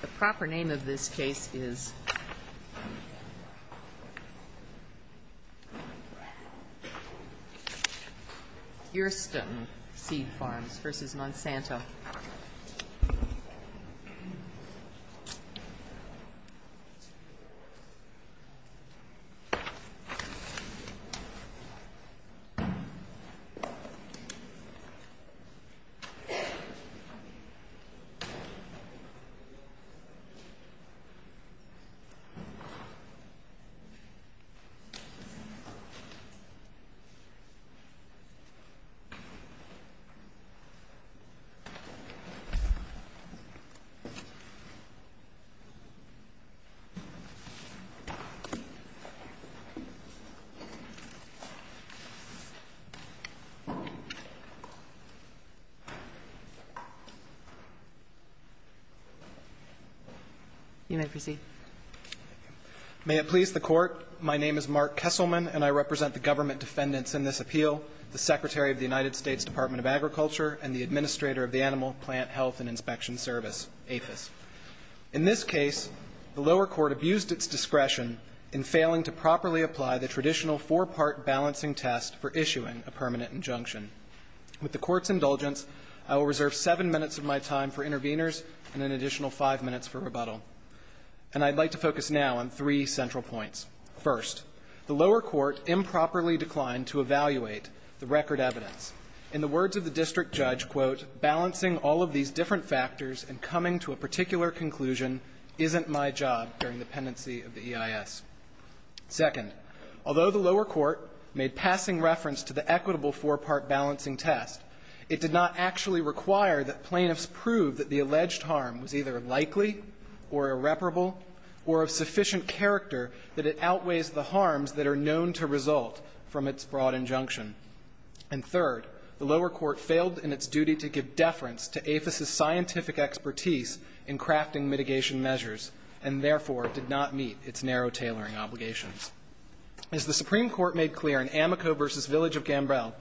The proper name of this case is Hurston Seed Farms v. Monsanto In this video, we are going to take a closer look at Hurston Seed Farms v. Garmany Hurston Seed Farms v. Garmany You may proceed. Kesselman May it please the Court, my name is Mark Kesselman, and I represent the government defendants in this appeal, the Secretary of the United States Department of Agriculture and the Administrator of the Animal, Plant, Health and Inspection Service, APHIS. In this case, the lower court abused its discretion in failing to properly apply the traditional four-part balancing test for issuing a permanent injunction. With the Court's indulgence, I will reserve seven minutes of my time for interviews with the conveners and an additional five minutes for rebuttal. And I'd like to focus now on three central points. First, the lower court improperly declined to evaluate the record evidence. In the words of the district judge, quote, balancing all of these different factors and coming to a particular conclusion isn't my job during the pendency of the EIS. Second, although the lower court made passing reference to the equitable four-part balancing test, it did not actually require that plaintiffs prove that the alleged harm was either likely or irreparable or of sufficient character that it outweighs the harms that are known to result from its broad injunction. And third, the lower court failed in its duty to give deference to APHIS's scientific expertise in crafting mitigation measures and, therefore, did not meet its narrow tailoring obligations. As the Supreme Court made clear in Amico v. Village of Gambrel,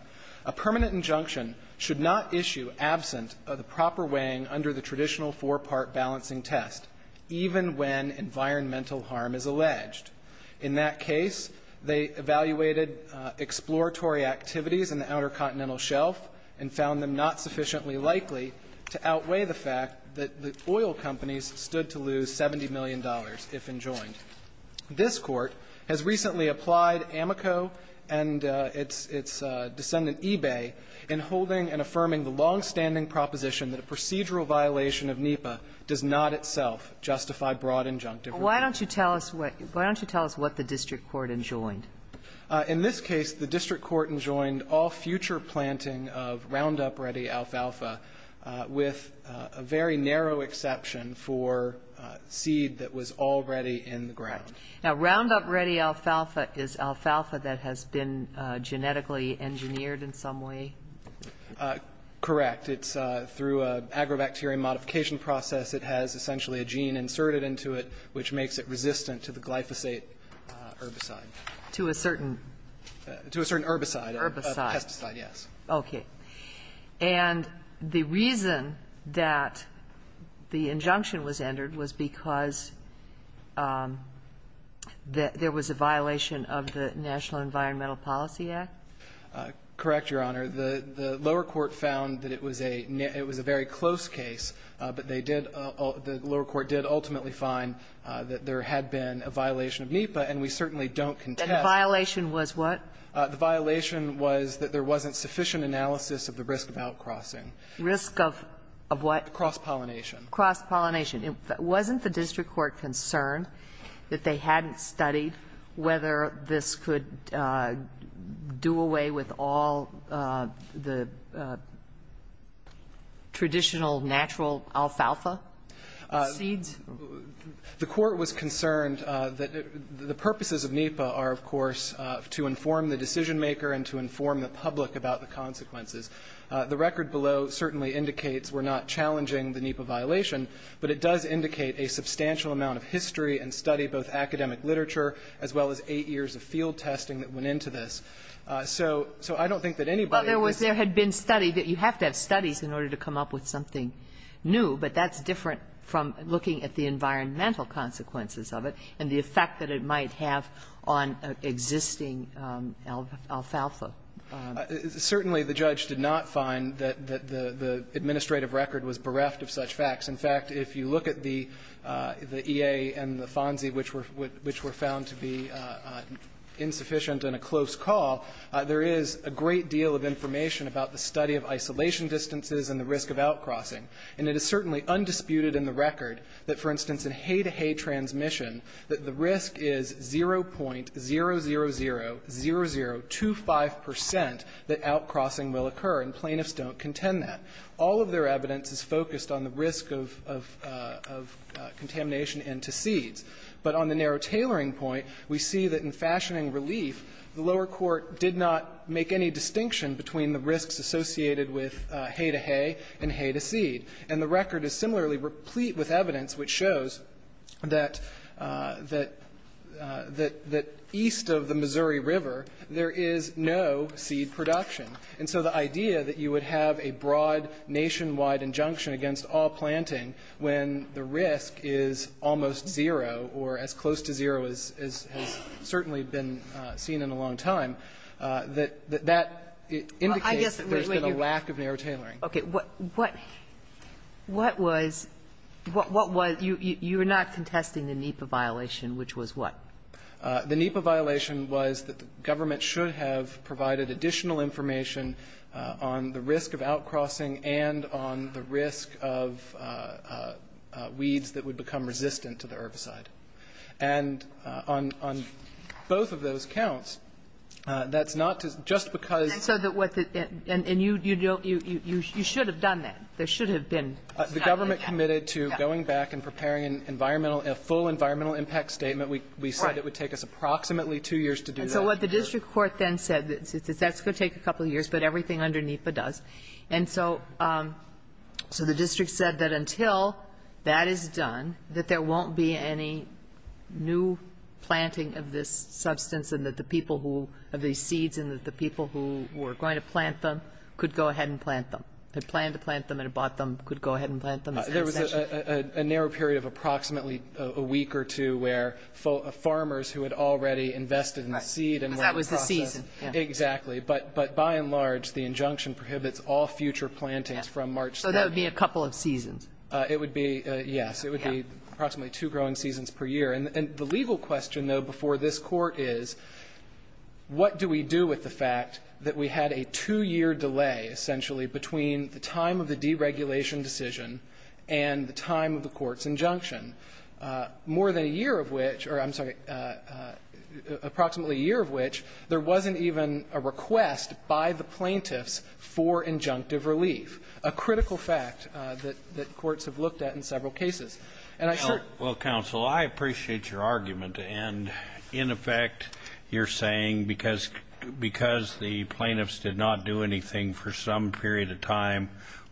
a permanent injunction should not issue absent of the proper weighing under the traditional four-part balancing test, even when environmental harm is alleged. In that case, they evaluated exploratory activities in the Outer Continental Shelf and found them not sufficiently likely to outweigh the fact that the oil companies stood to lose $70 million if enjoined. This Court has recently applied Amico and its descendant eBay in holding and affirming the longstanding proposition that a procedural violation of NEPA does not itself justify broad injunctive. Why don't you tell us what the district court enjoined? In this case, the district court enjoined all future planting of Roundup Ready alfalfa, with a very narrow exception for seed that was already in the ground. Now, Roundup Ready alfalfa is alfalfa that has been genetically engineered in some way? Correct. It's through an agrobacterial modification process. It has essentially a gene inserted into it, which makes it resistant to the glyphosate herbicide. To a certain? To a certain herbicide. Herbicide. Pesticide, yes. Okay. And the reason that the injunction was entered was because there was a violation of the National Environmental Policy Act? Correct, Your Honor. The lower court found that it was a very close case, but they did, the lower court did ultimately find that there had been a violation of NEPA, and we certainly don't contest. And the violation was what? The violation was that there wasn't sufficient analysis of the risk of outcrossing. Risk of what? Cross-pollination. Cross-pollination. Wasn't the district court concerned that they hadn't studied whether this could do away with all the traditional natural alfalfa seeds? The court was concerned that the purposes of NEPA are, of course, to inform the decision maker and to inform the public about the consequences. The record below certainly indicates we're not challenging the NEPA violation, but it does indicate a substantial amount of history and study, both academic literature, as well as eight years of field testing that went into this. So I don't think that anybody can say that. Well, there was, there had been study that you have to have studies in order to come up with something new, but that's different from looking at the environmental consequences of it and the effect that it might have on existing alfalfa. Certainly, the judge did not find that the administrative record was bereft of such facts. In fact, if you look at the EA and the FONSI, which were found to be insufficient and a close call, there is a great deal of information about the study of isolation distances and the risk of outcrossing. And it is certainly undisputed in the record that, for instance, in hay-to-hay transmission, that the risk is 0.0000025 percent that outcrossing will occur, and plaintiffs don't contend that. All of their evidence is focused on the risk of, of contamination into seeds. But on the narrow tailoring point, we see that in fashioning relief, the lower court did not make any distinction between the risks associated with hay-to-hay and hay-to-seed. And the record is similarly replete with evidence which shows that, that, that east of the Missouri River, there is no seed production. And so the idea that you would have a broad nationwide injunction against all planting when the risk is almost 0 or as close to 0 as has certainly been seen in a long time, that, that indicates that there's been a lack of narrow tailoring. Kagan. What, what, what was, what, what was, you, you, you were not contesting the NEPA violation, which was what? The NEPA violation was that the government should have provided additional information on the risk of outcrossing and on the risk of weeds that would become resistant to the herbicide. And on, on both of those counts, that's not just because And so that what the, and, and you, you don't, you, you, you should have done that. There should have been. The government committed to going back and preparing an environmental, a full environmental impact statement. We, we said it would take us approximately two years to do that. But the district court then said that that's going to take a couple of years, but everything under NEPA does. And so, so the district said that until that is done, that there won't be any new planting of this substance and that the people who, of these seeds and that the people who were going to plant them could go ahead and plant them. They planned to plant them and bought them, could go ahead and plant them. There was a narrow period of approximately a week or two where farmers who had already invested in the seed and that was the season. Exactly. But, but by and large, the injunction prohibits all future plantings from March. So that would be a couple of seasons. It would be, yes, it would be approximately two growing seasons per year. And the legal question though, before this court is what do we do with the fact that we had a two year delay essentially between the time of the deregulation decision and the time of the court's injunction? More than a year of which, or I'm sorry, approximately a year of which there wasn't even a request by the plaintiffs for injunctive relief. A critical fact that courts have looked at in several cases. And I sure Well, counsel, I appreciate your argument. And in effect, you're saying because the plaintiffs did not do anything for some period of time,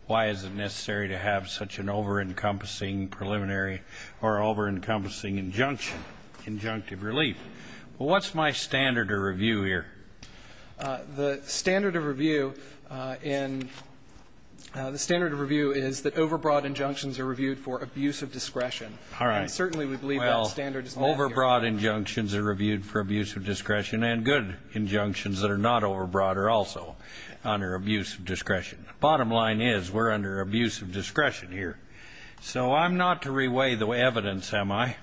why is it necessary to have such an over-encompassing preliminary or over-encompassing injunction, injunctive relief? What's my standard of review here? The standard of review in, the standard of review is that overbroad injunctions are reviewed for abuse of discretion. All right. And certainly we believe that standard is not here. Well, overbroad injunctions are reviewed for abuse of discretion and good injunctions that are not overbroad are also under abuse of discretion. Bottom line is we're under abuse of discretion here. So I'm not to reweigh the evidence, am I?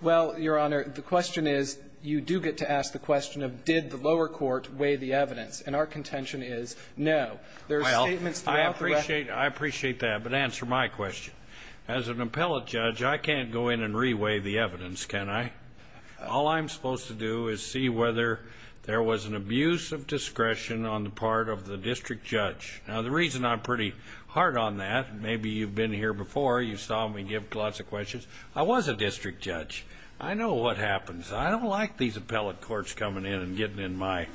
Well, Your Honor, the question is, you do get to ask the question of did the lower court weigh the evidence. And our contention is no. There are statements throughout the record. Well, I appreciate that, but answer my question. As an appellate judge, I can't go in and reweigh the evidence, can I? All I'm supposed to do is see whether there was an abuse of discretion on the part of the district judge. Now, the reason I'm pretty hard on that, maybe you've been here before, you saw me give lots of questions. I was a district judge. I know what happens. I don't like these appellate courts coming in and getting in my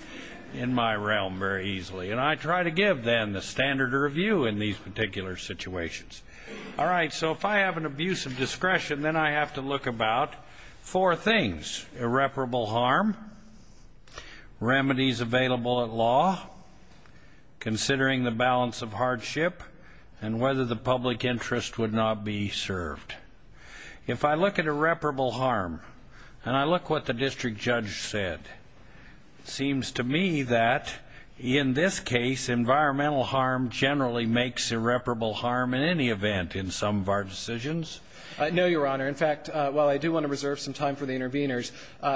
realm very easily. And I try to give, then, the standard of review in these particular situations. All right. So if I have an abuse of discretion, then I have to look about four things, irreparable harm, remedies available at law, considering the balance of hardship, and whether the public interest would not be served. If I look at irreparable harm and I look what the district judge said, it seems to me that in this case environmental harm generally makes irreparable harm in any event in some of our decisions. No, Your Honor. In fact, while I do want to reserve some time for the interveners,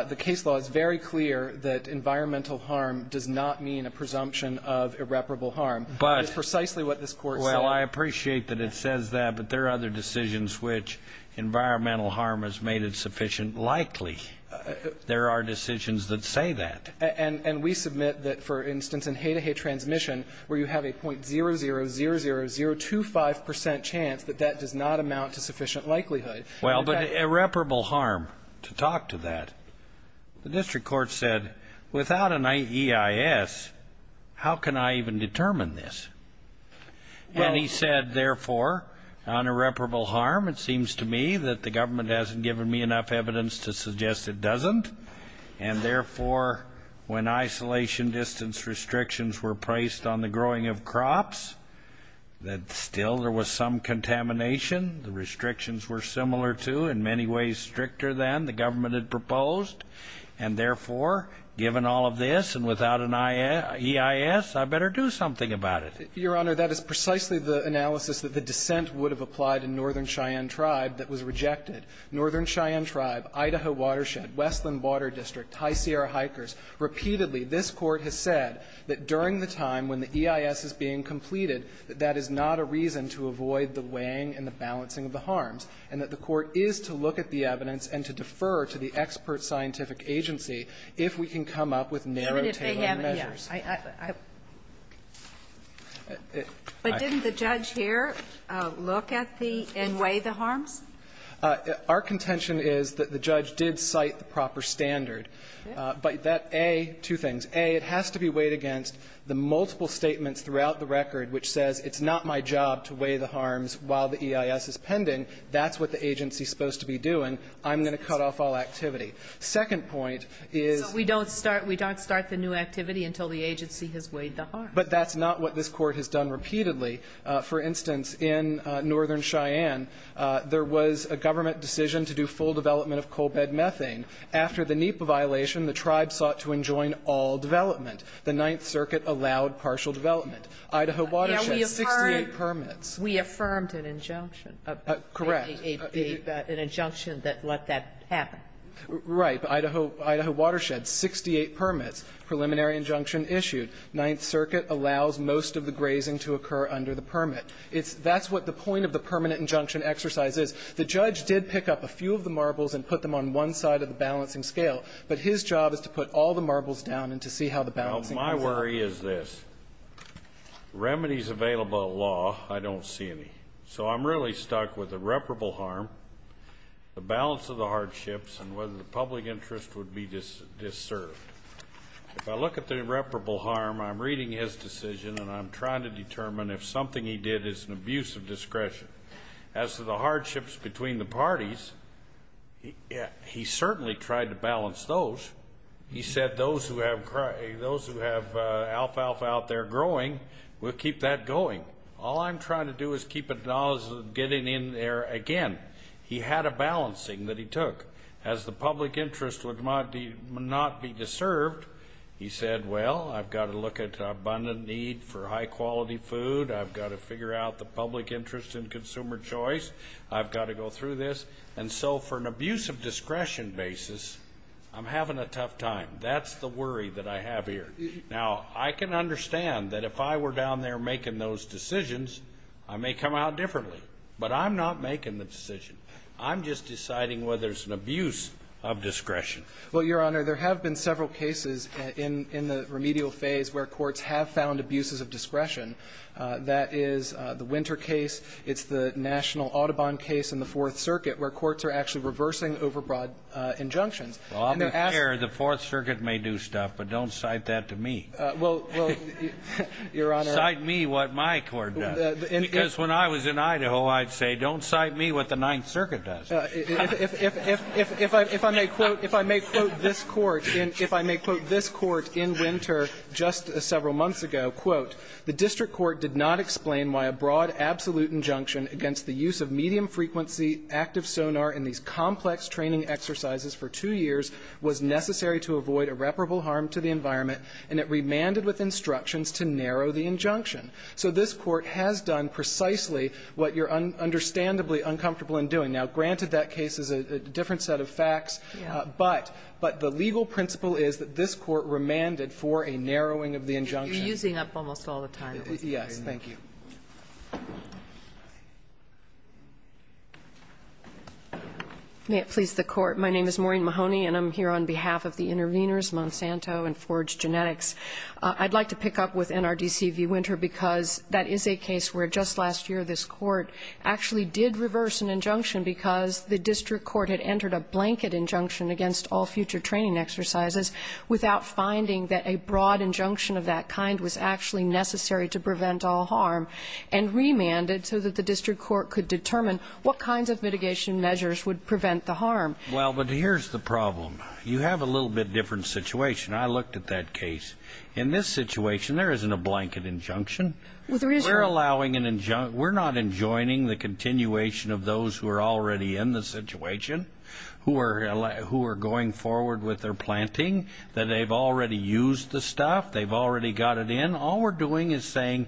the case law is very clear that environmental harm does not mean a presumption of irreparable harm. That's precisely what this Court said. Well, I appreciate that it says that, but there are other decisions which environmental harm has made it sufficient likely. There are decisions that say that. And we submit that, for instance, in hay-to-hay transmission, where you have a .000025% chance that that does not amount to sufficient likelihood. Well, but irreparable harm, to talk to that, the district court said, without an EIS, how can I even determine this? And he said, therefore, on irreparable harm, it seems to me that the government hasn't given me enough evidence to suggest it doesn't. And therefore, when isolation distance restrictions were placed on the growing of crops, that still there was some contamination. The restrictions were similar to, in many ways, stricter than the government had proposed. And therefore, given all of this, and without an EIS, I better do something about it. Your Honor, that is precisely the analysis that the dissent would have applied in Northern Cheyenne Tribe that was rejected. Northern Cheyenne Tribe, Idaho Watershed, Westland Water District, High Sierra Hikers, repeatedly this Court has said that during the time when the EIS is being completed, that that is not a reason to avoid the weighing and the balancing of the harms, and that the Court is to look at the evidence and to defer to the expert scientific agency if we can come up with narrow, tailored measures. But didn't the judge here look at the and weigh the harms? Our contention is that the judge did cite the proper standard. But that A, two things. A, it has to be weighed against the multiple statements throughout the record which says it's not my job to weigh the harms while the EIS is pending. That's what the agency is supposed to be doing. I'm going to cut off all activity. Second point is we don't start the new activity until the agency has weighed the harms. But that's not what this Court has done repeatedly. For instance, in Northern Cheyenne, there was a government decision to do full development of coal bed methane. After the NEPA violation, the tribes sought to enjoin all development. The Ninth Circuit allowed partial development. Idaho Watershed, 68 permits. We affirmed an injunction. Correct. An injunction that let that happen. Right. Idaho Watershed, 68 permits, preliminary injunction issued. Ninth Circuit allows most of the grazing to occur under the permit. That's what the point of the permanent injunction exercise is. The judge did pick up a few of the marbles and put them on one side of the balancing scale. But his job is to put all the marbles down and to see how the balancing is. Now, my worry is this. Remedies available at law, I don't see any. So I'm really stuck with irreparable harm, the balance of the hardships, and whether the public interest would be disserved. If I look at the irreparable harm, I'm reading his decision and I'm trying to determine if something he did is an abuse of discretion. As to the hardships between the parties, he certainly tried to balance those. He said those who have alfalfa out there growing, we'll keep that going. All I'm trying to do is keep it as getting in there again. He had a balancing that he took. As the public interest would not be deserved, he said, well, I've got to look at abundant need for high-quality food. I've got to figure out the public interest in consumer choice. I've got to go through this. And so for an abuse of discretion basis, I'm having a tough time. That's the worry that I have here. Now, I can understand that if I were down there making those decisions, I may come out differently. But I'm not making the decision. I'm just deciding whether it's an abuse of discretion. Well, Your Honor, there have been several cases in the remedial phase where courts have found abuses of discretion. That is the Winter case. It's the National Audubon case in the Fourth Circuit where courts are actually reversing overbroad injunctions. Well, I don't care. The Fourth Circuit may do stuff, but don't cite that to me. Well, Your Honor. Cite me what my court does. Because when I was in Idaho, I'd say, don't cite me what the Ninth Circuit does. If I may quote this court in Winter just several months ago, quote, The district court did not explain why a broad absolute injunction against the use of medium-frequency active sonar in these complex training exercises for two years was necessary to avoid irreparable harm to the environment, and it remanded with instructions to narrow the injunction. So this court has done precisely what you're understandably uncomfortable in doing. Now, granted that case is a different set of facts, but the legal principle is that this court remanded for a narrowing of the injunction. You're using up almost all the time. Yes. Thank you. May it please the Court. My name is Maureen Mahoney, and I'm here on behalf of the interveners, Monsanto and Forge Genetics. I'd like to pick up with NRDC v. Winter because that is a case where just last year this court actually did reverse an injunction because the district court had entered a blanket injunction against all future training exercises without finding that a broad injunction of that kind was actually necessary to prevent all harm, and remanded so that the district court could determine what kinds of mitigation measures would prevent the harm. Well, but here's the problem. You have a little bit different situation. I looked at that case. In this situation, there isn't a blanket injunction. We're allowing an injunction. We're not enjoining the continuation of those who are already in the situation, who are going forward with their planting, that they've already used the stuff, they've already got it in. All we're doing is saying,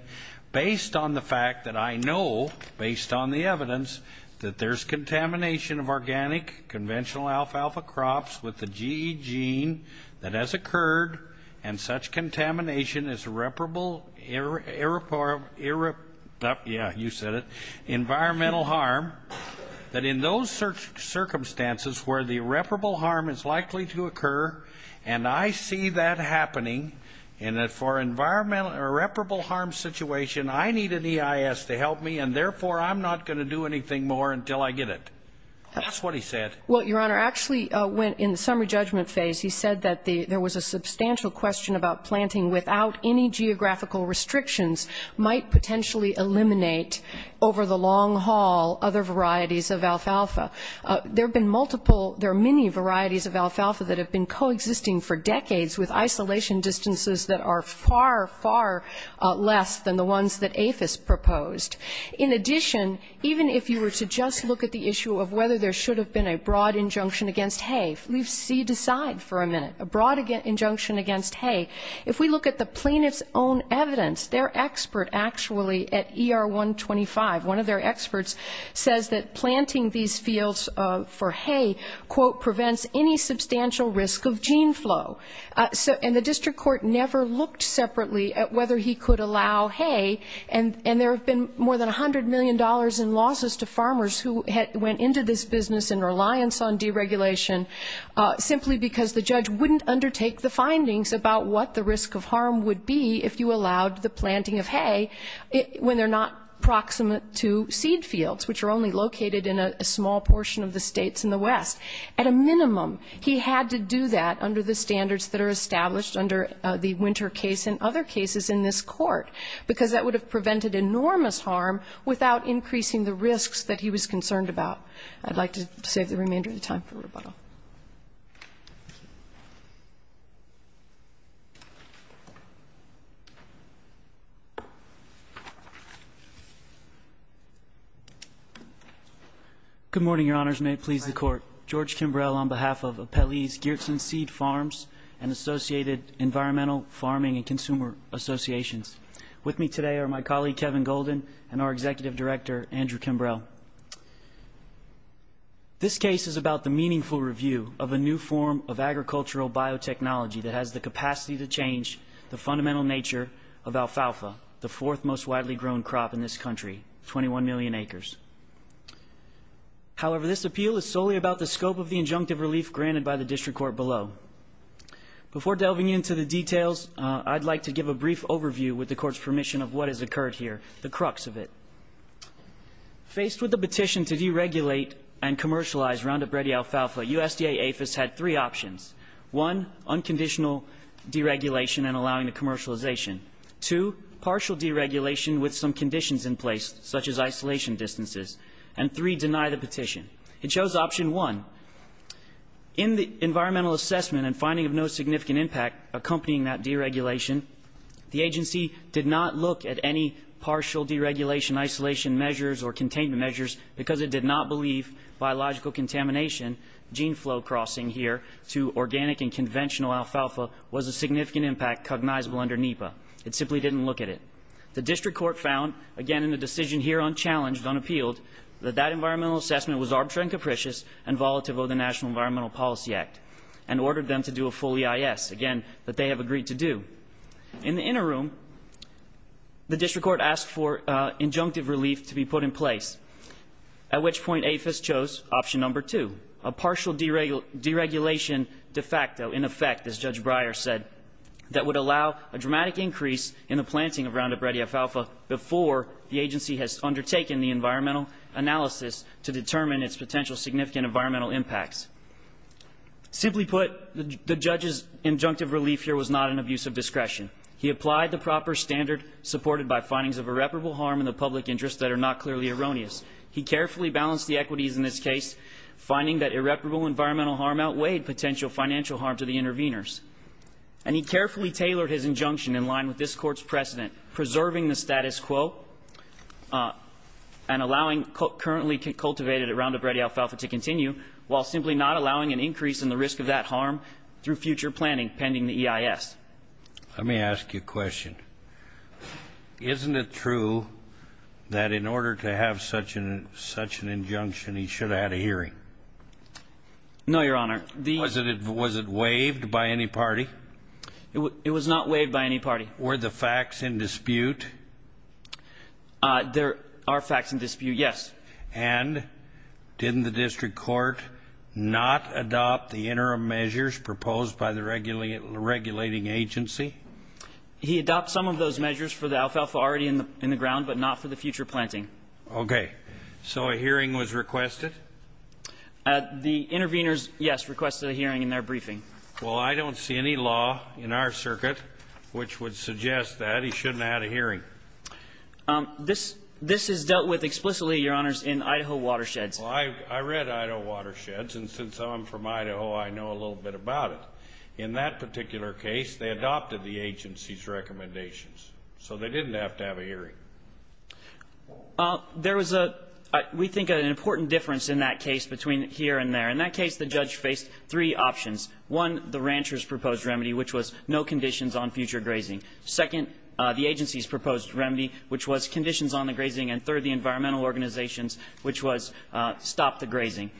based on the fact that I know, based on the evidence, that there's contamination of organic conventional alfalfa crops with the GE that has occurred, and such contamination is irreparable environmental harm, that in those circumstances where the irreparable harm is likely to occur, and I see that happening, and that for an irreparable harm situation, I need an EIS to help me, and therefore I'm not going to do anything more until I get it. That's what he said. Well, Your Honor, actually, in the summary judgment phase, he said that there was a substantial question about planting without any geographical restrictions might potentially eliminate over the long haul other varieties of alfalfa. There have been multiple, there are many varieties of alfalfa that have been coexisting for decades with isolation distances that are far, far less than the ones that APHIS proposed. In addition, even if you were to just look at the issue of whether there should have been a broad injunction against hay, leave seed aside for a minute, a broad injunction against hay. If we look at the plaintiff's own evidence, their expert actually at ER 125, one of their experts says that planting these fields for hay, quote, prevents any substantial risk of gene flow. And the district court never looked separately at whether he could allow hay, and there have been more than $100 million in losses to farmers who went into this business in reliance on deregulation, simply because the judge wouldn't undertake the findings about what the risk of harm would be if you allowed the planting of hay when they're not proximate to seed fields, which are only located in a small portion of the states in the west. At a minimum, he had to do that under the standards that are established under the Winter case and other cases in this court, because that would have prevented enormous harm without increasing the risks that he was concerned about. I'd like to save the remainder of the time for rebuttal. Good morning, Your Honors. May it please the Court. George Kimbrell on behalf of Appellees Geertsen Seed Farms and Associated Environmental Farming and Consumer Associations. With me today are my colleague Kevin Golden and our Executive Director, Andrew Kimbrell. This case is about the meaningful review of a new form of agricultural biotechnology that has the capacity to change the fundamental nature of alfalfa, the fourth most widely grown crop in this country, 21 million acres. However, this appeal is solely about the scope of the injunctive relief granted by the district court below. Before delving into the details, I'd like to give a brief overview with the Court's permission of what has occurred here, the crux of it. Faced with the petition to deregulate and commercialize Roundup Ready alfalfa, USDA APHIS had three options. One, unconditional deregulation and allowing the commercialization. Two, partial deregulation with some conditions in place, such as isolation distances. And three, deny the petition. It shows option one. In the environmental assessment and finding of no significant impact accompanying that deregulation, the agency did not look at any partial deregulation, isolation measures or containment measures because it did not believe biological contamination, gene flow crossing here to organic and conventional alfalfa was a significant impact cognizable under NEPA. It simply didn't look at it. The district court found, again, in the decision here unchallenged, unappealed, that that environmental assessment was arbitrary and capricious and volatile over the National Environmental Policy Act and ordered them to do a full EIS. Again, that they have agreed to do. In the interim, the district court asked for injunctive relief to be put in place, at which point APHIS chose option number two, a partial deregulation de facto in effect, as Judge Breyer said, that would allow a dramatic increase in the planting of Roundup Ready alfalfa before the agency has undertaken the environmental analysis to determine its potential significant environmental impacts. Simply put, the judge's injunctive relief here was not an abuse of discretion. He applied the proper standard supported by findings of irreparable harm in the public interest that are not clearly erroneous. He carefully balanced the equities in this case, finding that irreparable environmental harm outweighed potential financial harm to the interveners. And he carefully tailored his injunction in line with this court's precedent, preserving the status quo and allowing currently cultivated at Roundup Ready alfalfa to continue while simply not allowing an increase in the risk of that harm through future planning pending the EIS. Let me ask you a question. Isn't it true that in order to have such an injunction, he should have had a hearing? No, Your Honor. Was it waived by any party? It was not waived by any party. Were the facts in dispute? There are facts in dispute, yes. And didn't the district court not adopt the interim measures proposed by the regulating agency? He adopted some of those measures for the alfalfa already in the ground, but not for the future planting. Okay. So a hearing was requested? The interveners, yes, requested a hearing in their briefing. Well, I don't see any law in our circuit which would suggest that he shouldn't have had a hearing. This is dealt with explicitly, Your Honors, in Idaho watersheds. I read Idaho watersheds, and since I'm from Idaho, I know a little bit about it. In that particular case, they adopted the agency's recommendations, so they didn't have to have a hearing. There was, we think, an important difference in that case between here and there. In that case, the judge faced three options. One, the rancher's proposed remedy, which was no conditions on future grazing. Second, the agency's proposed remedy, which was conditions on the grazing, and third, the environmental organizations, which was stop the grazing.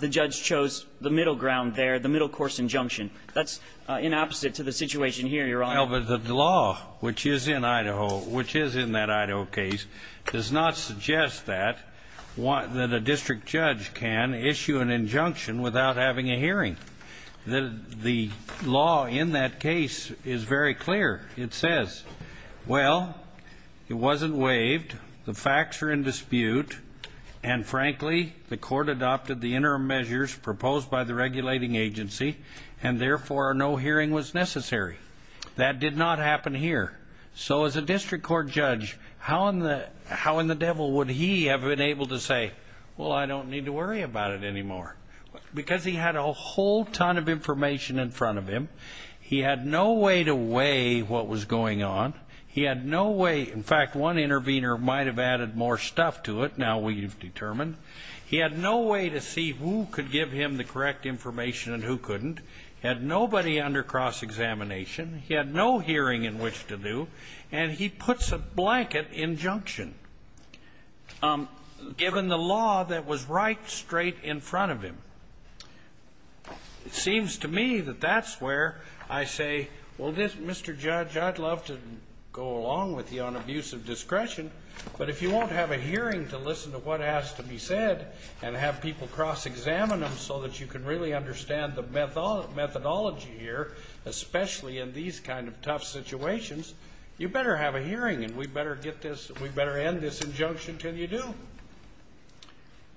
The judge chose the middle ground there, the middle-course injunction. That's in opposite to the situation here, Your Honor. Well, but the law, which is in Idaho, which is in that Idaho case, does not suggest that a district judge can issue an injunction without having a hearing. The law in that case is very clear. It says, well, it wasn't waived, the facts are in dispute, and frankly, the court adopted the interim measures proposed by the regulating agency, and therefore, no hearing was necessary. That did not happen here. So as a district court judge, how in the devil would he have been able to say, well, I don't need to worry about it anymore? Because he had a whole ton of information in front of him. He had no way to weigh what was going on. He had no way... In fact, one intervener might have added more stuff to it. Now we've determined. He had no way to see who could give him the correct information and who couldn't. He had nobody under cross-examination. He had no hearing in which to do, and he puts a blanket injunction, given the law that was right straight in front of him. It seems to me that that's where I say, well, this, Mr. Judge, I'd love to go along with you on abuse of discretion, but if you won't have a hearing to listen to what has to be said and have people cross-examine them so that you can really understand the methodology here, especially in these kind of tough situations, you better have a hearing, and we better get this, we better end this injunction till you do.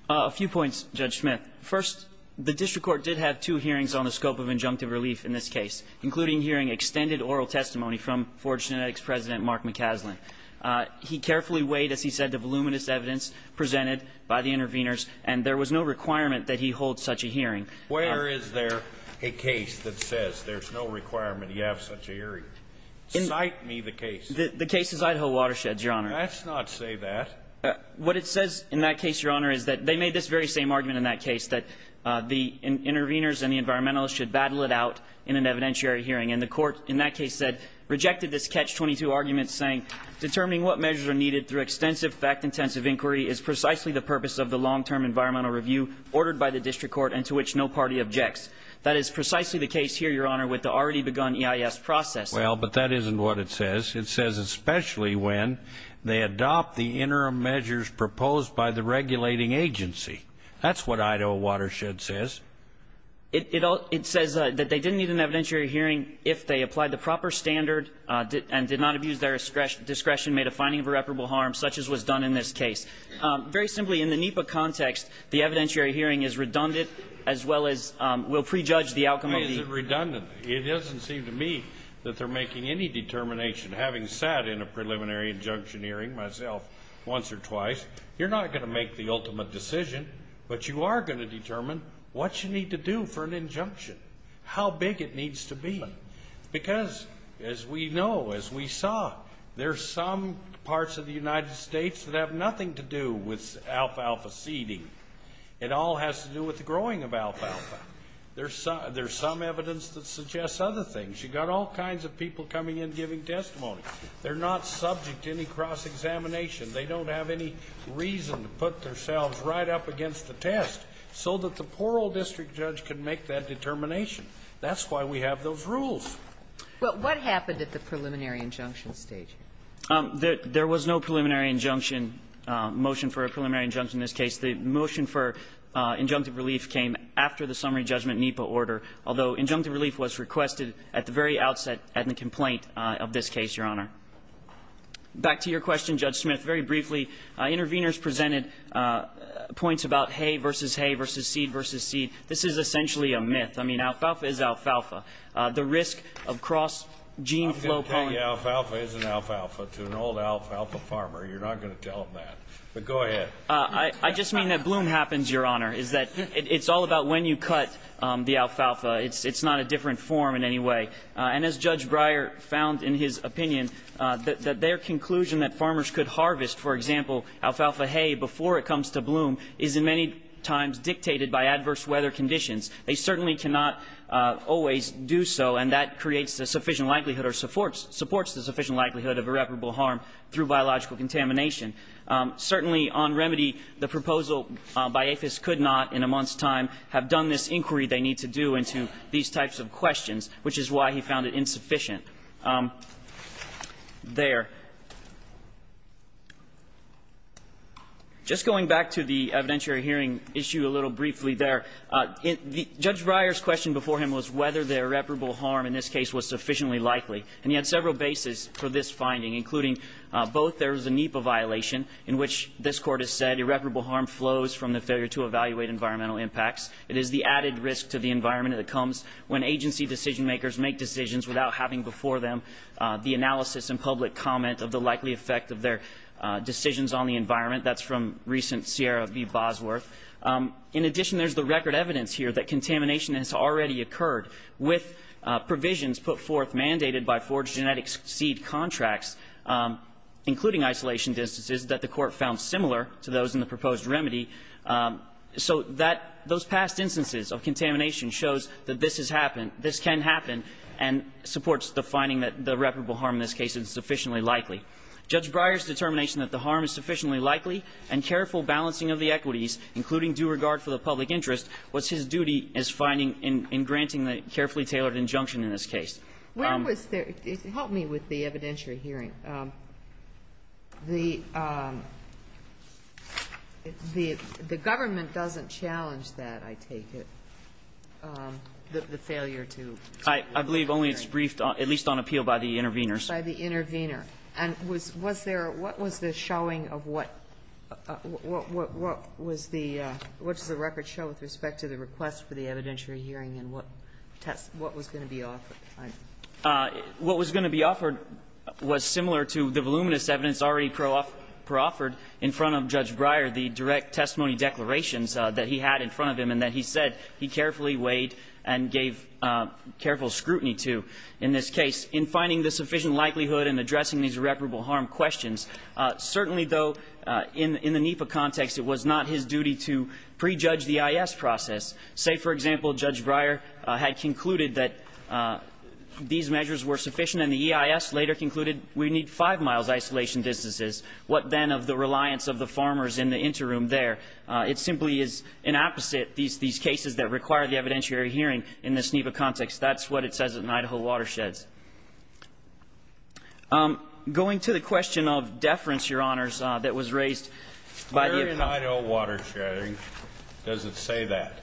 A few points, Judge Schmitt. First, the district court did have two hearings on the scope of injunctive relief in this case, including hearing extended oral testimony from Forge Genetics President Mark McCaslin. He carefully weighed, as he said, the voluminous evidence presented by the interveners, and there was no requirement that he hold such a hearing. Where is there a case that says there's no requirement you have such a hearing? Cite me the case. The case is Idaho Watersheds, Your Honor. Let's not say that. What it says in that case, Your Honor, is that they made this very same argument in that case, that the interveners and the environmentalists should battle it out in an evidentiary hearing. And the court in that case said, rejected this catch-22 argument, saying, determining what measures are needed through extensive fact-intensive inquiry is precisely the purpose of the long-term environmental review ordered by the district court and to which no party objects. That is precisely the case here, Your Honor, with the already-begun EIS process. Well, but that isn't what it says. It says especially when they adopt the interim measures proposed by the regulating agency. That's what Idaho Watersheds says. It says that they didn't need an evidentiary hearing if they applied the proper standard and did not abuse their discretion made a finding of irreparable harm, such as was done in this case. Very simply, in the NEPA context, the evidentiary hearing is redundant as well as will prejudge the outcome of the... Why is it redundant? It doesn't seem to me that they're making any determination. Having sat in a preliminary injunction hearing myself, once or twice, you're not going to make the ultimate decision, but you are going to determine what you need to do for an injunction, how big it needs to be. Because, as we know, as we saw, there's some parts of the United States that have nothing to do with alfalfa seeding. It all has to do with the growing of alfalfa. There's some evidence that suggests other things. You've got all kinds of people coming in giving testimony. They're not subject to any cross-examination. They don't have any reason to put themselves right up against the test so that the plural district judge can make that determination. That's why we have those rules. What happened at the preliminary injunction stage? There was no preliminary injunction, motion for a preliminary injunction in this case. The motion for injunctive relief came after the summary judgment NEPA order, although injunctive relief was requested at the very outset at the complaint of this case, Your Honor. Back to your question, Judge Smith. Very briefly, interveners presented points about hay versus hay versus seed versus seed. This is essentially a myth. I mean, alfalfa is alfalfa. The risk of cross-gene flow point... Alfalfa is an alfalfa to an old alfalfa farmer. You're not going to tell them that. But go ahead. I just mean that bloom happens, Your Honor. It's all about when you cut the alfalfa. It's not a different form in any way. And as Judge Breyer found in his opinion, that their conclusion that farmers could harvest, for example, alfalfa hay before it comes to bloom is in many times dictated by adverse weather conditions. They certainly cannot always do so, and that creates the sufficient likelihood or supports the sufficient likelihood of irreparable harm through biological contamination. Certainly, on remedy, the proposal by APHIS could not, in a month's time, have done this inquiry they need to do into these types of questions, which is why he found it insufficient. There. Just going back to the evidentiary hearing issue a little briefly there, Judge Breyer's question before him was whether the irreparable harm in this case was sufficiently likely. And he had several bases for this finding, including both there was a NEPA violation in which this Court has said irreparable harm flows from the failure to evaluate environmental impacts. It is the added risk to the environment that comes when agency decision-makers make decisions without having before them the analysis and public comment of the likely effect of their decisions on the environment. That's from recent Sierra v. Bosworth. In addition, there's the record evidence here that contamination has already occurred with provisions put forth, mandated by forged genetic seed contracts, including isolation distances, that the Court found similar to those in the proposed remedy. So that, those past instances of contamination shows that this has happened, this can happen, and supports the finding that the irreparable harm in this case is sufficiently likely. Judge Breyer's determination that the harm is sufficiently likely and careful balancing of the equities, including due regard for the public interest, was his duty as finding and granting the carefully tailored injunction in this case. Help me with the evidentiary hearing. The government doesn't challenge that, I take it, the failure to... I believe only it's briefed, at least on appeal, by the intervenors. By the intervenor. And was there, what was the showing of what, what was the, what does the record show with respect to the request for the evidentiary hearing to be offered? What was going to be offered was similar to what was presented similar to the voluminous evidence already pre-offered in front of Judge Breyer, the direct testimony declarations that he had in front of him and that he said he carefully weighed and gave careful scrutiny to in this case, in finding the sufficient likelihood in addressing these irreparable harm questions. Certainly, though, in the NEPA context, it was not his duty to prejudge the EIS process. Say, for example, Judge Breyer had concluded that these measures were sufficient and the EIS later concluded we need five miles isolation distances. What then of the reliance of the farmers in the interim there? It simply is an opposite, these cases that require the evidentiary hearing in this NEPA context. That's what it says in Idaho watersheds. Going to the question of deference, Your Honors, that was raised by the... Where in Idaho watersheds does it say that?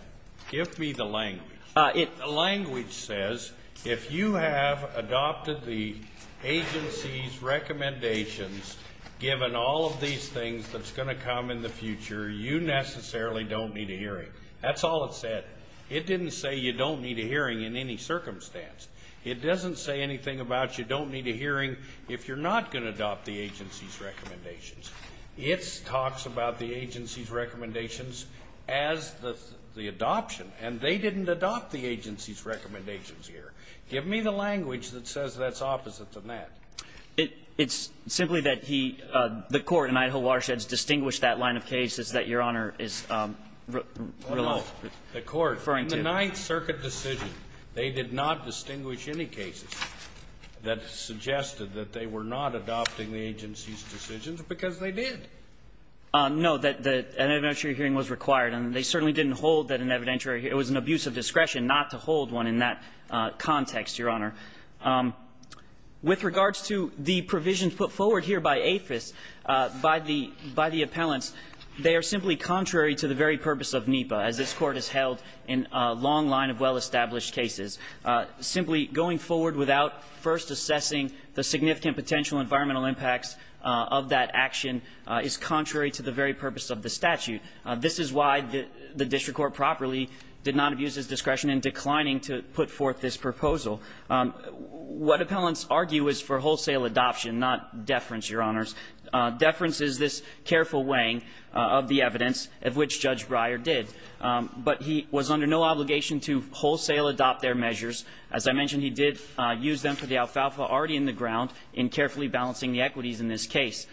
Give me the language. The language says if you have adopted the agency's recommendations, given all of these things that's going to come in the future, you necessarily don't need a hearing. That's all it said. It didn't say you don't need a hearing in any circumstance. It doesn't say anything about you don't need a hearing if you're not going to adopt the agency's recommendations. It talks about the agency's recommendations as the adoption, and they didn't adopt the agency's recommendations here. Give me the language that says that's opposite to that. It's simply that the court in Idaho watersheds distinguished that line of cases that Your Honor is referring to. In the Ninth Circuit decision they did not distinguish any cases that suggested that they were not adopting the agency's decisions because they did. No, an evidentiary hearing was required, and they certainly didn't hold that an evidentiary, it was an abuse of discretion not to hold one in that context, Your Honor. With regards to the provisions put forward here by APHIS, by the appellants, they are simply contrary to the very purpose of NEPA, as this Court has held in a long line of well-established cases. Simply going forward without first assessing the significant potential environmental impacts of that action is contrary to the very purpose of the statute. This is why the District Court properly did not abuse its discretion in declining to put forth this proposal. What appellants argue is for wholesale adoption, not deference, Your Honors. Deference is this careful weighing of the evidence, of which Judge Breyer did. But he was under no obligation to wholesale adopt their measures. As I mentioned, he did use them for the alfalfa already in the ground in carefully balancing the equities in this case.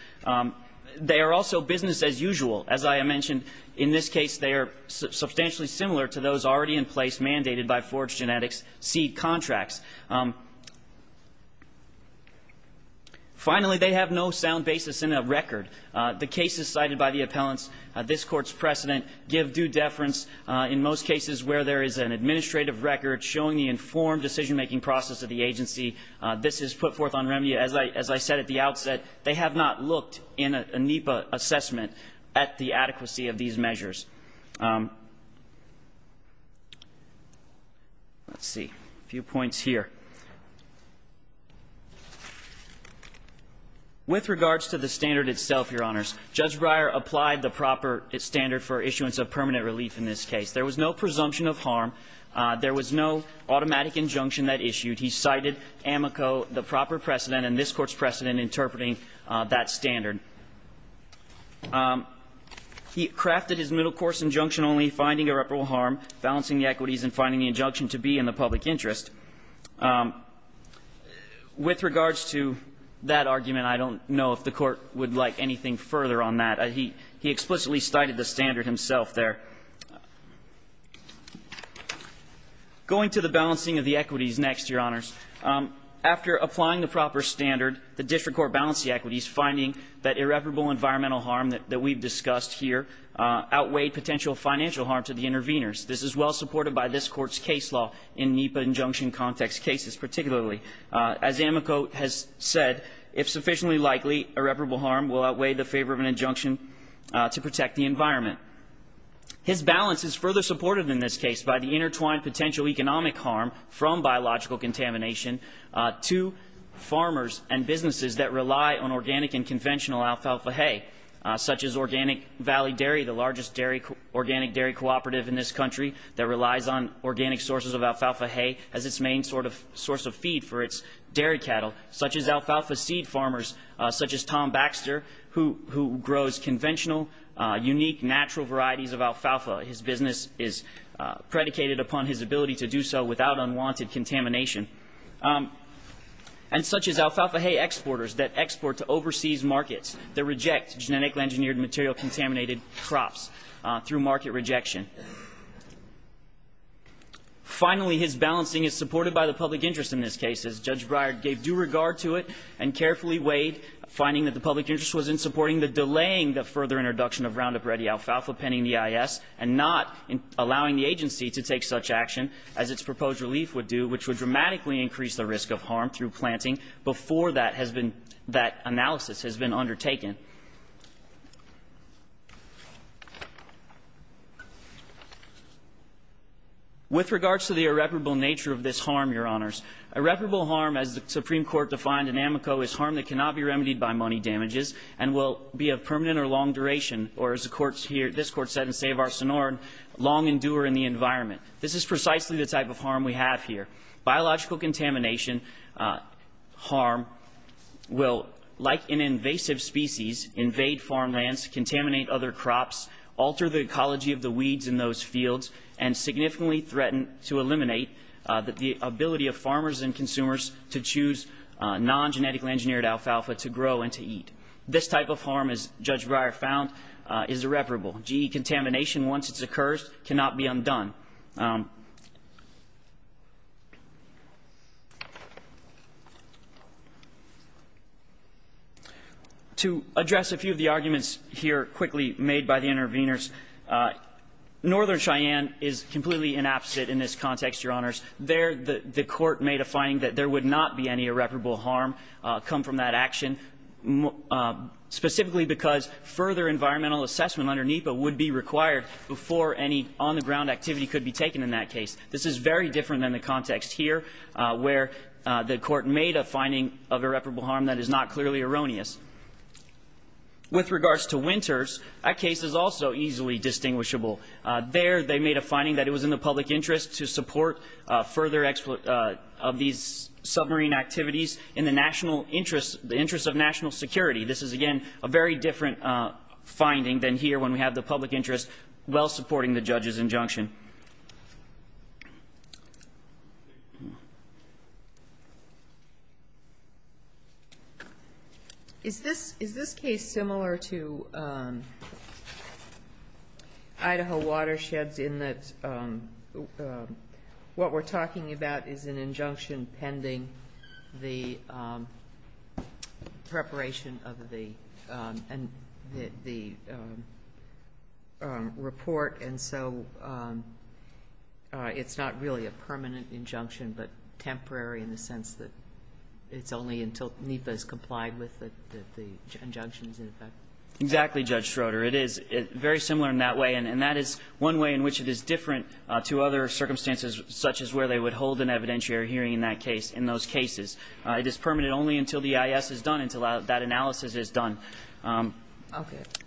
They are also for business as usual. As I mentioned, in this case, they are substantially similar to those already in place, mandated by Forge Genetics' seed contracts. Finally, they have no sound basis in a record. The cases cited by the appellants, this Court's precedent, give due deference in most cases where there is an administrative record showing the informed decision-making process of the agency. This is put forth on remedy. As I said at the outset, they have not looked in a NEPA assessment at the adequacy of these measures. Let's see. A few points here. With regards to the standard itself, Your Honors, Judge Breyer applied the proper standard for issuance of permanent relief in this case. There was no presumption of harm. There was no automatic injunction that issued. He cited Amico, the proper precedent, and this Court's precedent interpreting that standard. He crafted his middle-course injunction only, finding irreparable harm, balancing the equities, and finding the injunction to be in the public interest. With regards to that argument, I don't know if the Court would like anything further on that. He explicitly cited the standard himself there. Going to the balancing of the equities next, Your Honors. After applying the proper standard, the District Court balanced the equities, finding that irreparable environmental harm that we've discussed here outweighed potential financial harm to the interveners. This is well supported by this Court's case law in NEPA injunction context cases particularly. As Amico has said, if sufficiently likely, irreparable harm will outweigh the favor of an injunction to protect the environment. His balance is further supported in this case by the intertwined potential economic harm from biological contamination to farmers and businesses that rely on organic and conventional alfalfa hay such as Organic Valley Dairy, the largest organic dairy cooperative in this country that relies on organic sources of alfalfa hay as its main source of feed for its dairy cattle, such as alfalfa seed farmers such as Tom Baxter, who grows conventional, unique, natural varieties of alfalfa. His business is predicated upon his ability to protect the environment from biological contamination and such as alfalfa hay exporters that export to overseas markets that reject genetically engineered material contaminated crops through market rejection. Finally, his balancing is supported by the public interest in this case as Judge Breyer gave due regard to it and carefully weighed finding that the public interest was in supporting the delaying the further introduction of Roundup Ready alfalfa penning EIS and not allowing the agency to take such action as its proposed relief would do which would dramatically increase the risk of harm through planting before that has been that analysis has been undertaken. With regards to the irreparable nature of this harm, Your Honors Irreparable harm, as the Supreme Court defined in Amico, is harm that cannot be remedied by money damages and will be of no consequence. This is precisely the type of harm we have here. Biological contamination harm will, like an invasive species, invade farmlands, contaminate other crops, alter the ecology of the weeds in those fields and significantly threaten to eliminate the ability of farmers and non-genetically engineered alfalfa to grow and to eat. This type of harm, as the Supreme Court defined, is irreparable. GE contamination, once it occurs, cannot be undone. To address a few of the arguments here quickly made by the interveners, Northern Cheyenne is completely inapposite in this context, Your Honors. There, the Court made a finding that there would not be any irreparable harm come from that action specifically because further environmental assessment under NEPA would be required before any on-the-ground activity could be taken in that case. This is very different than the context here where the Court made a finding of irreparable harm that is not clearly erroneous. With regards to Winters, that case is also easily distinguishable. There, they made a finding that it was in the public interest to support further of these submarine activities in the national interest of national security. This is, again, a very different finding than here when we have the public interest while supporting the judge's injunction. Is this case similar to Idaho Watersheds in that what we're talking about is an injunction pending the preparation of the report and so it's not really a permanent injunction but temporary in the sense that it's only until NEPA has complied with the injunctions. Exactly, Judge Schroeder. It is very similar in that way and that is one way in which it is different to other cases. It is permanent only until the EIS is done, until that analysis is done.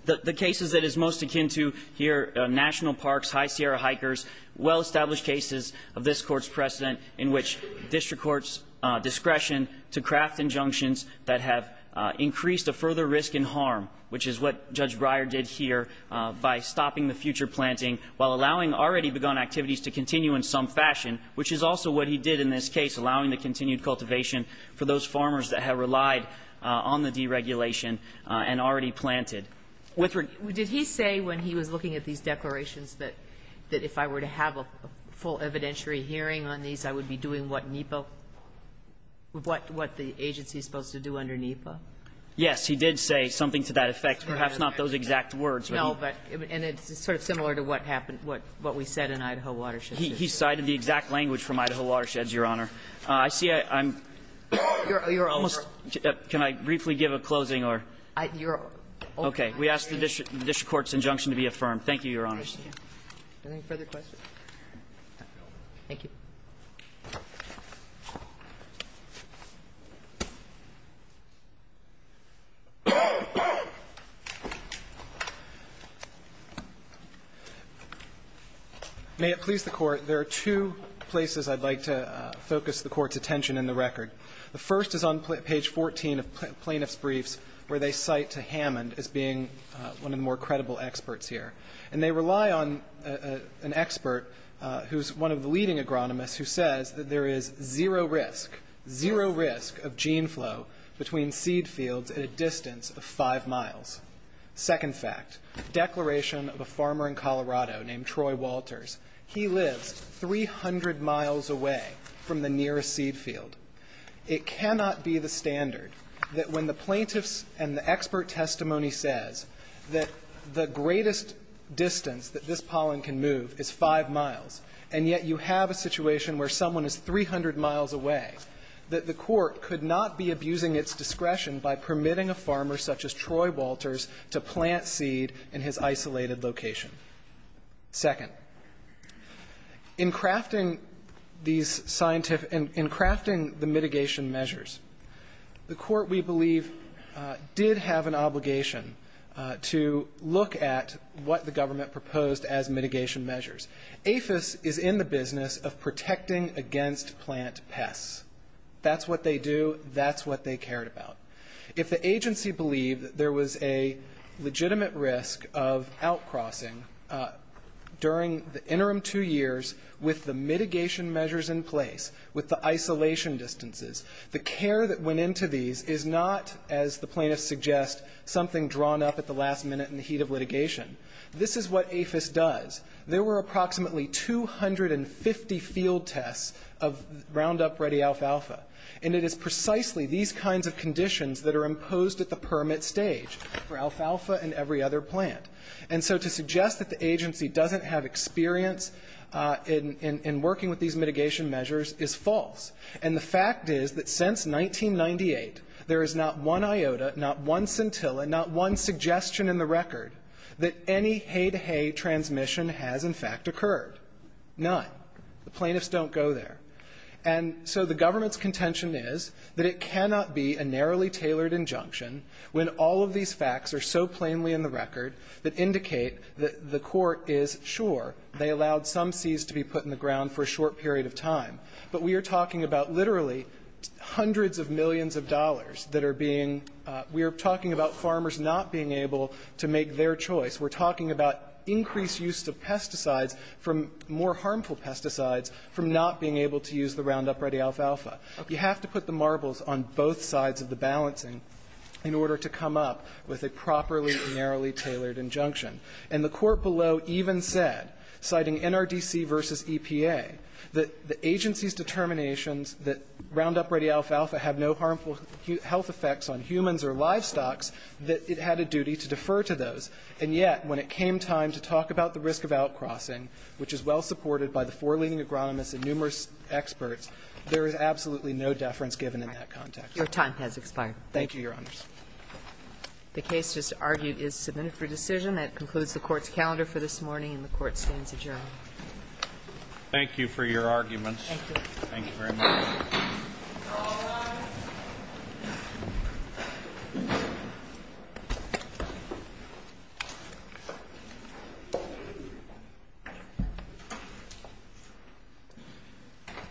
The cases that is most akin to here, National Parks, High Sierra Hikers, well-established cases of this Court's precedent in which district courts discretion to craft injunctions that have increased a further risk in harm which is what Judge Breyer did here by stopping the future planting while allowing already begun activities to continue in some fashion which is also what he did in this case, allowing the continued cultivation for those farmers that have relied on the deregulation and already planted. Did he say when he was looking at these declarations that if I were to have a full evidentiary hearing on these I would be doing what NEPA what the agency is supposed to do under NEPA? Yes, he did say something to that effect. Perhaps not those exact words. No, but it's sort of similar to what we said in Idaho Watersheds. He cited the exact language from Idaho Watersheds, Your Honor. Can I briefly give a closing? Okay. We ask the district court's injunction to be affirmed. Thank you, Your Honors. Any further questions? Thank you. May it please the court there are two places I'd like to focus the court's attention in the record. The first is on page 14 of plaintiff's briefs where they cite to Hammond as being one of the more credible experts here and they rely on an expert who's one of the leading agronomists who says that there is zero risk, zero risk of gene flow between seed fields at a distance of five miles. Second fact, declaration of a farmer in Colorado named Troy Walters. He lives 300 miles away from the nearest seed field. It cannot be the standard that when the plaintiffs and the expert testimony says that the greatest distance that this pollen can move is five miles and yet you have a situation where someone is 300 miles away that the court could not be abusing its discretion by permitting a farmer such as Troy in his isolated location. Second, in crafting these scientific, in crafting the mitigation measures the court we believe did have an obligation to look at what the government proposed as mitigation measures. APHIS is in the business of protecting against plant pests. That's what they do, that's what they cared about. If the agency believed that there was a legitimate risk of outcrossing during the interim two years with the mitigation measures in place, with the isolation distances, the care that went into these is not, as the plaintiffs suggest, something drawn up at the last minute in the heat of litigation. This is what APHIS does. There were approximately 250 field tests of Roundup Ready Alpha Alpha. And it is precisely these kinds of conditions that are imposed at the permit stage for alfalfa and every other plant. And so to suggest that the agency doesn't have experience in working with these mitigation measures is false. And the fact is that since 1998 there is not one iota, not one scintilla, not one suggestion in the record that any hay-to-hay transmission has in fact occurred. None. The plaintiffs don't go there. And so the government's contention is that it cannot be a narrowly tailored injunction when all of these facts are so plainly in the record that indicate that the court is sure they allowed some seeds to be put in the ground for a short period of time. But we are talking about literally hundreds of millions of dollars that are being, we are talking about farmers not being able to make their choice. We're talking about increased use of pesticides from more harmful pesticides from not being able to use the Roundup ready alfalfa. You have to put the marbles on both sides of the balancing in order to come up with a properly narrowly tailored injunction. And the court below even said, citing NRDC v. EPA, that the agency's determinations that Roundup ready alfalfa have no harmful health effects on humans or livestock that it had a duty to defer to those. And yet when it came time to talk about the risk of out-crossing which is well supported by the four leading agronomists and numerous experts, there is absolutely no deference given in that context. Your time has expired. Thank you, Your Honors. The case just argued is submitted for decision. That concludes the court's calendar for this morning and the court stands adjourned. Thank you for your arguments. Thank you. Thank you very much. This court, this session,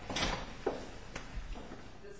stands adjourned.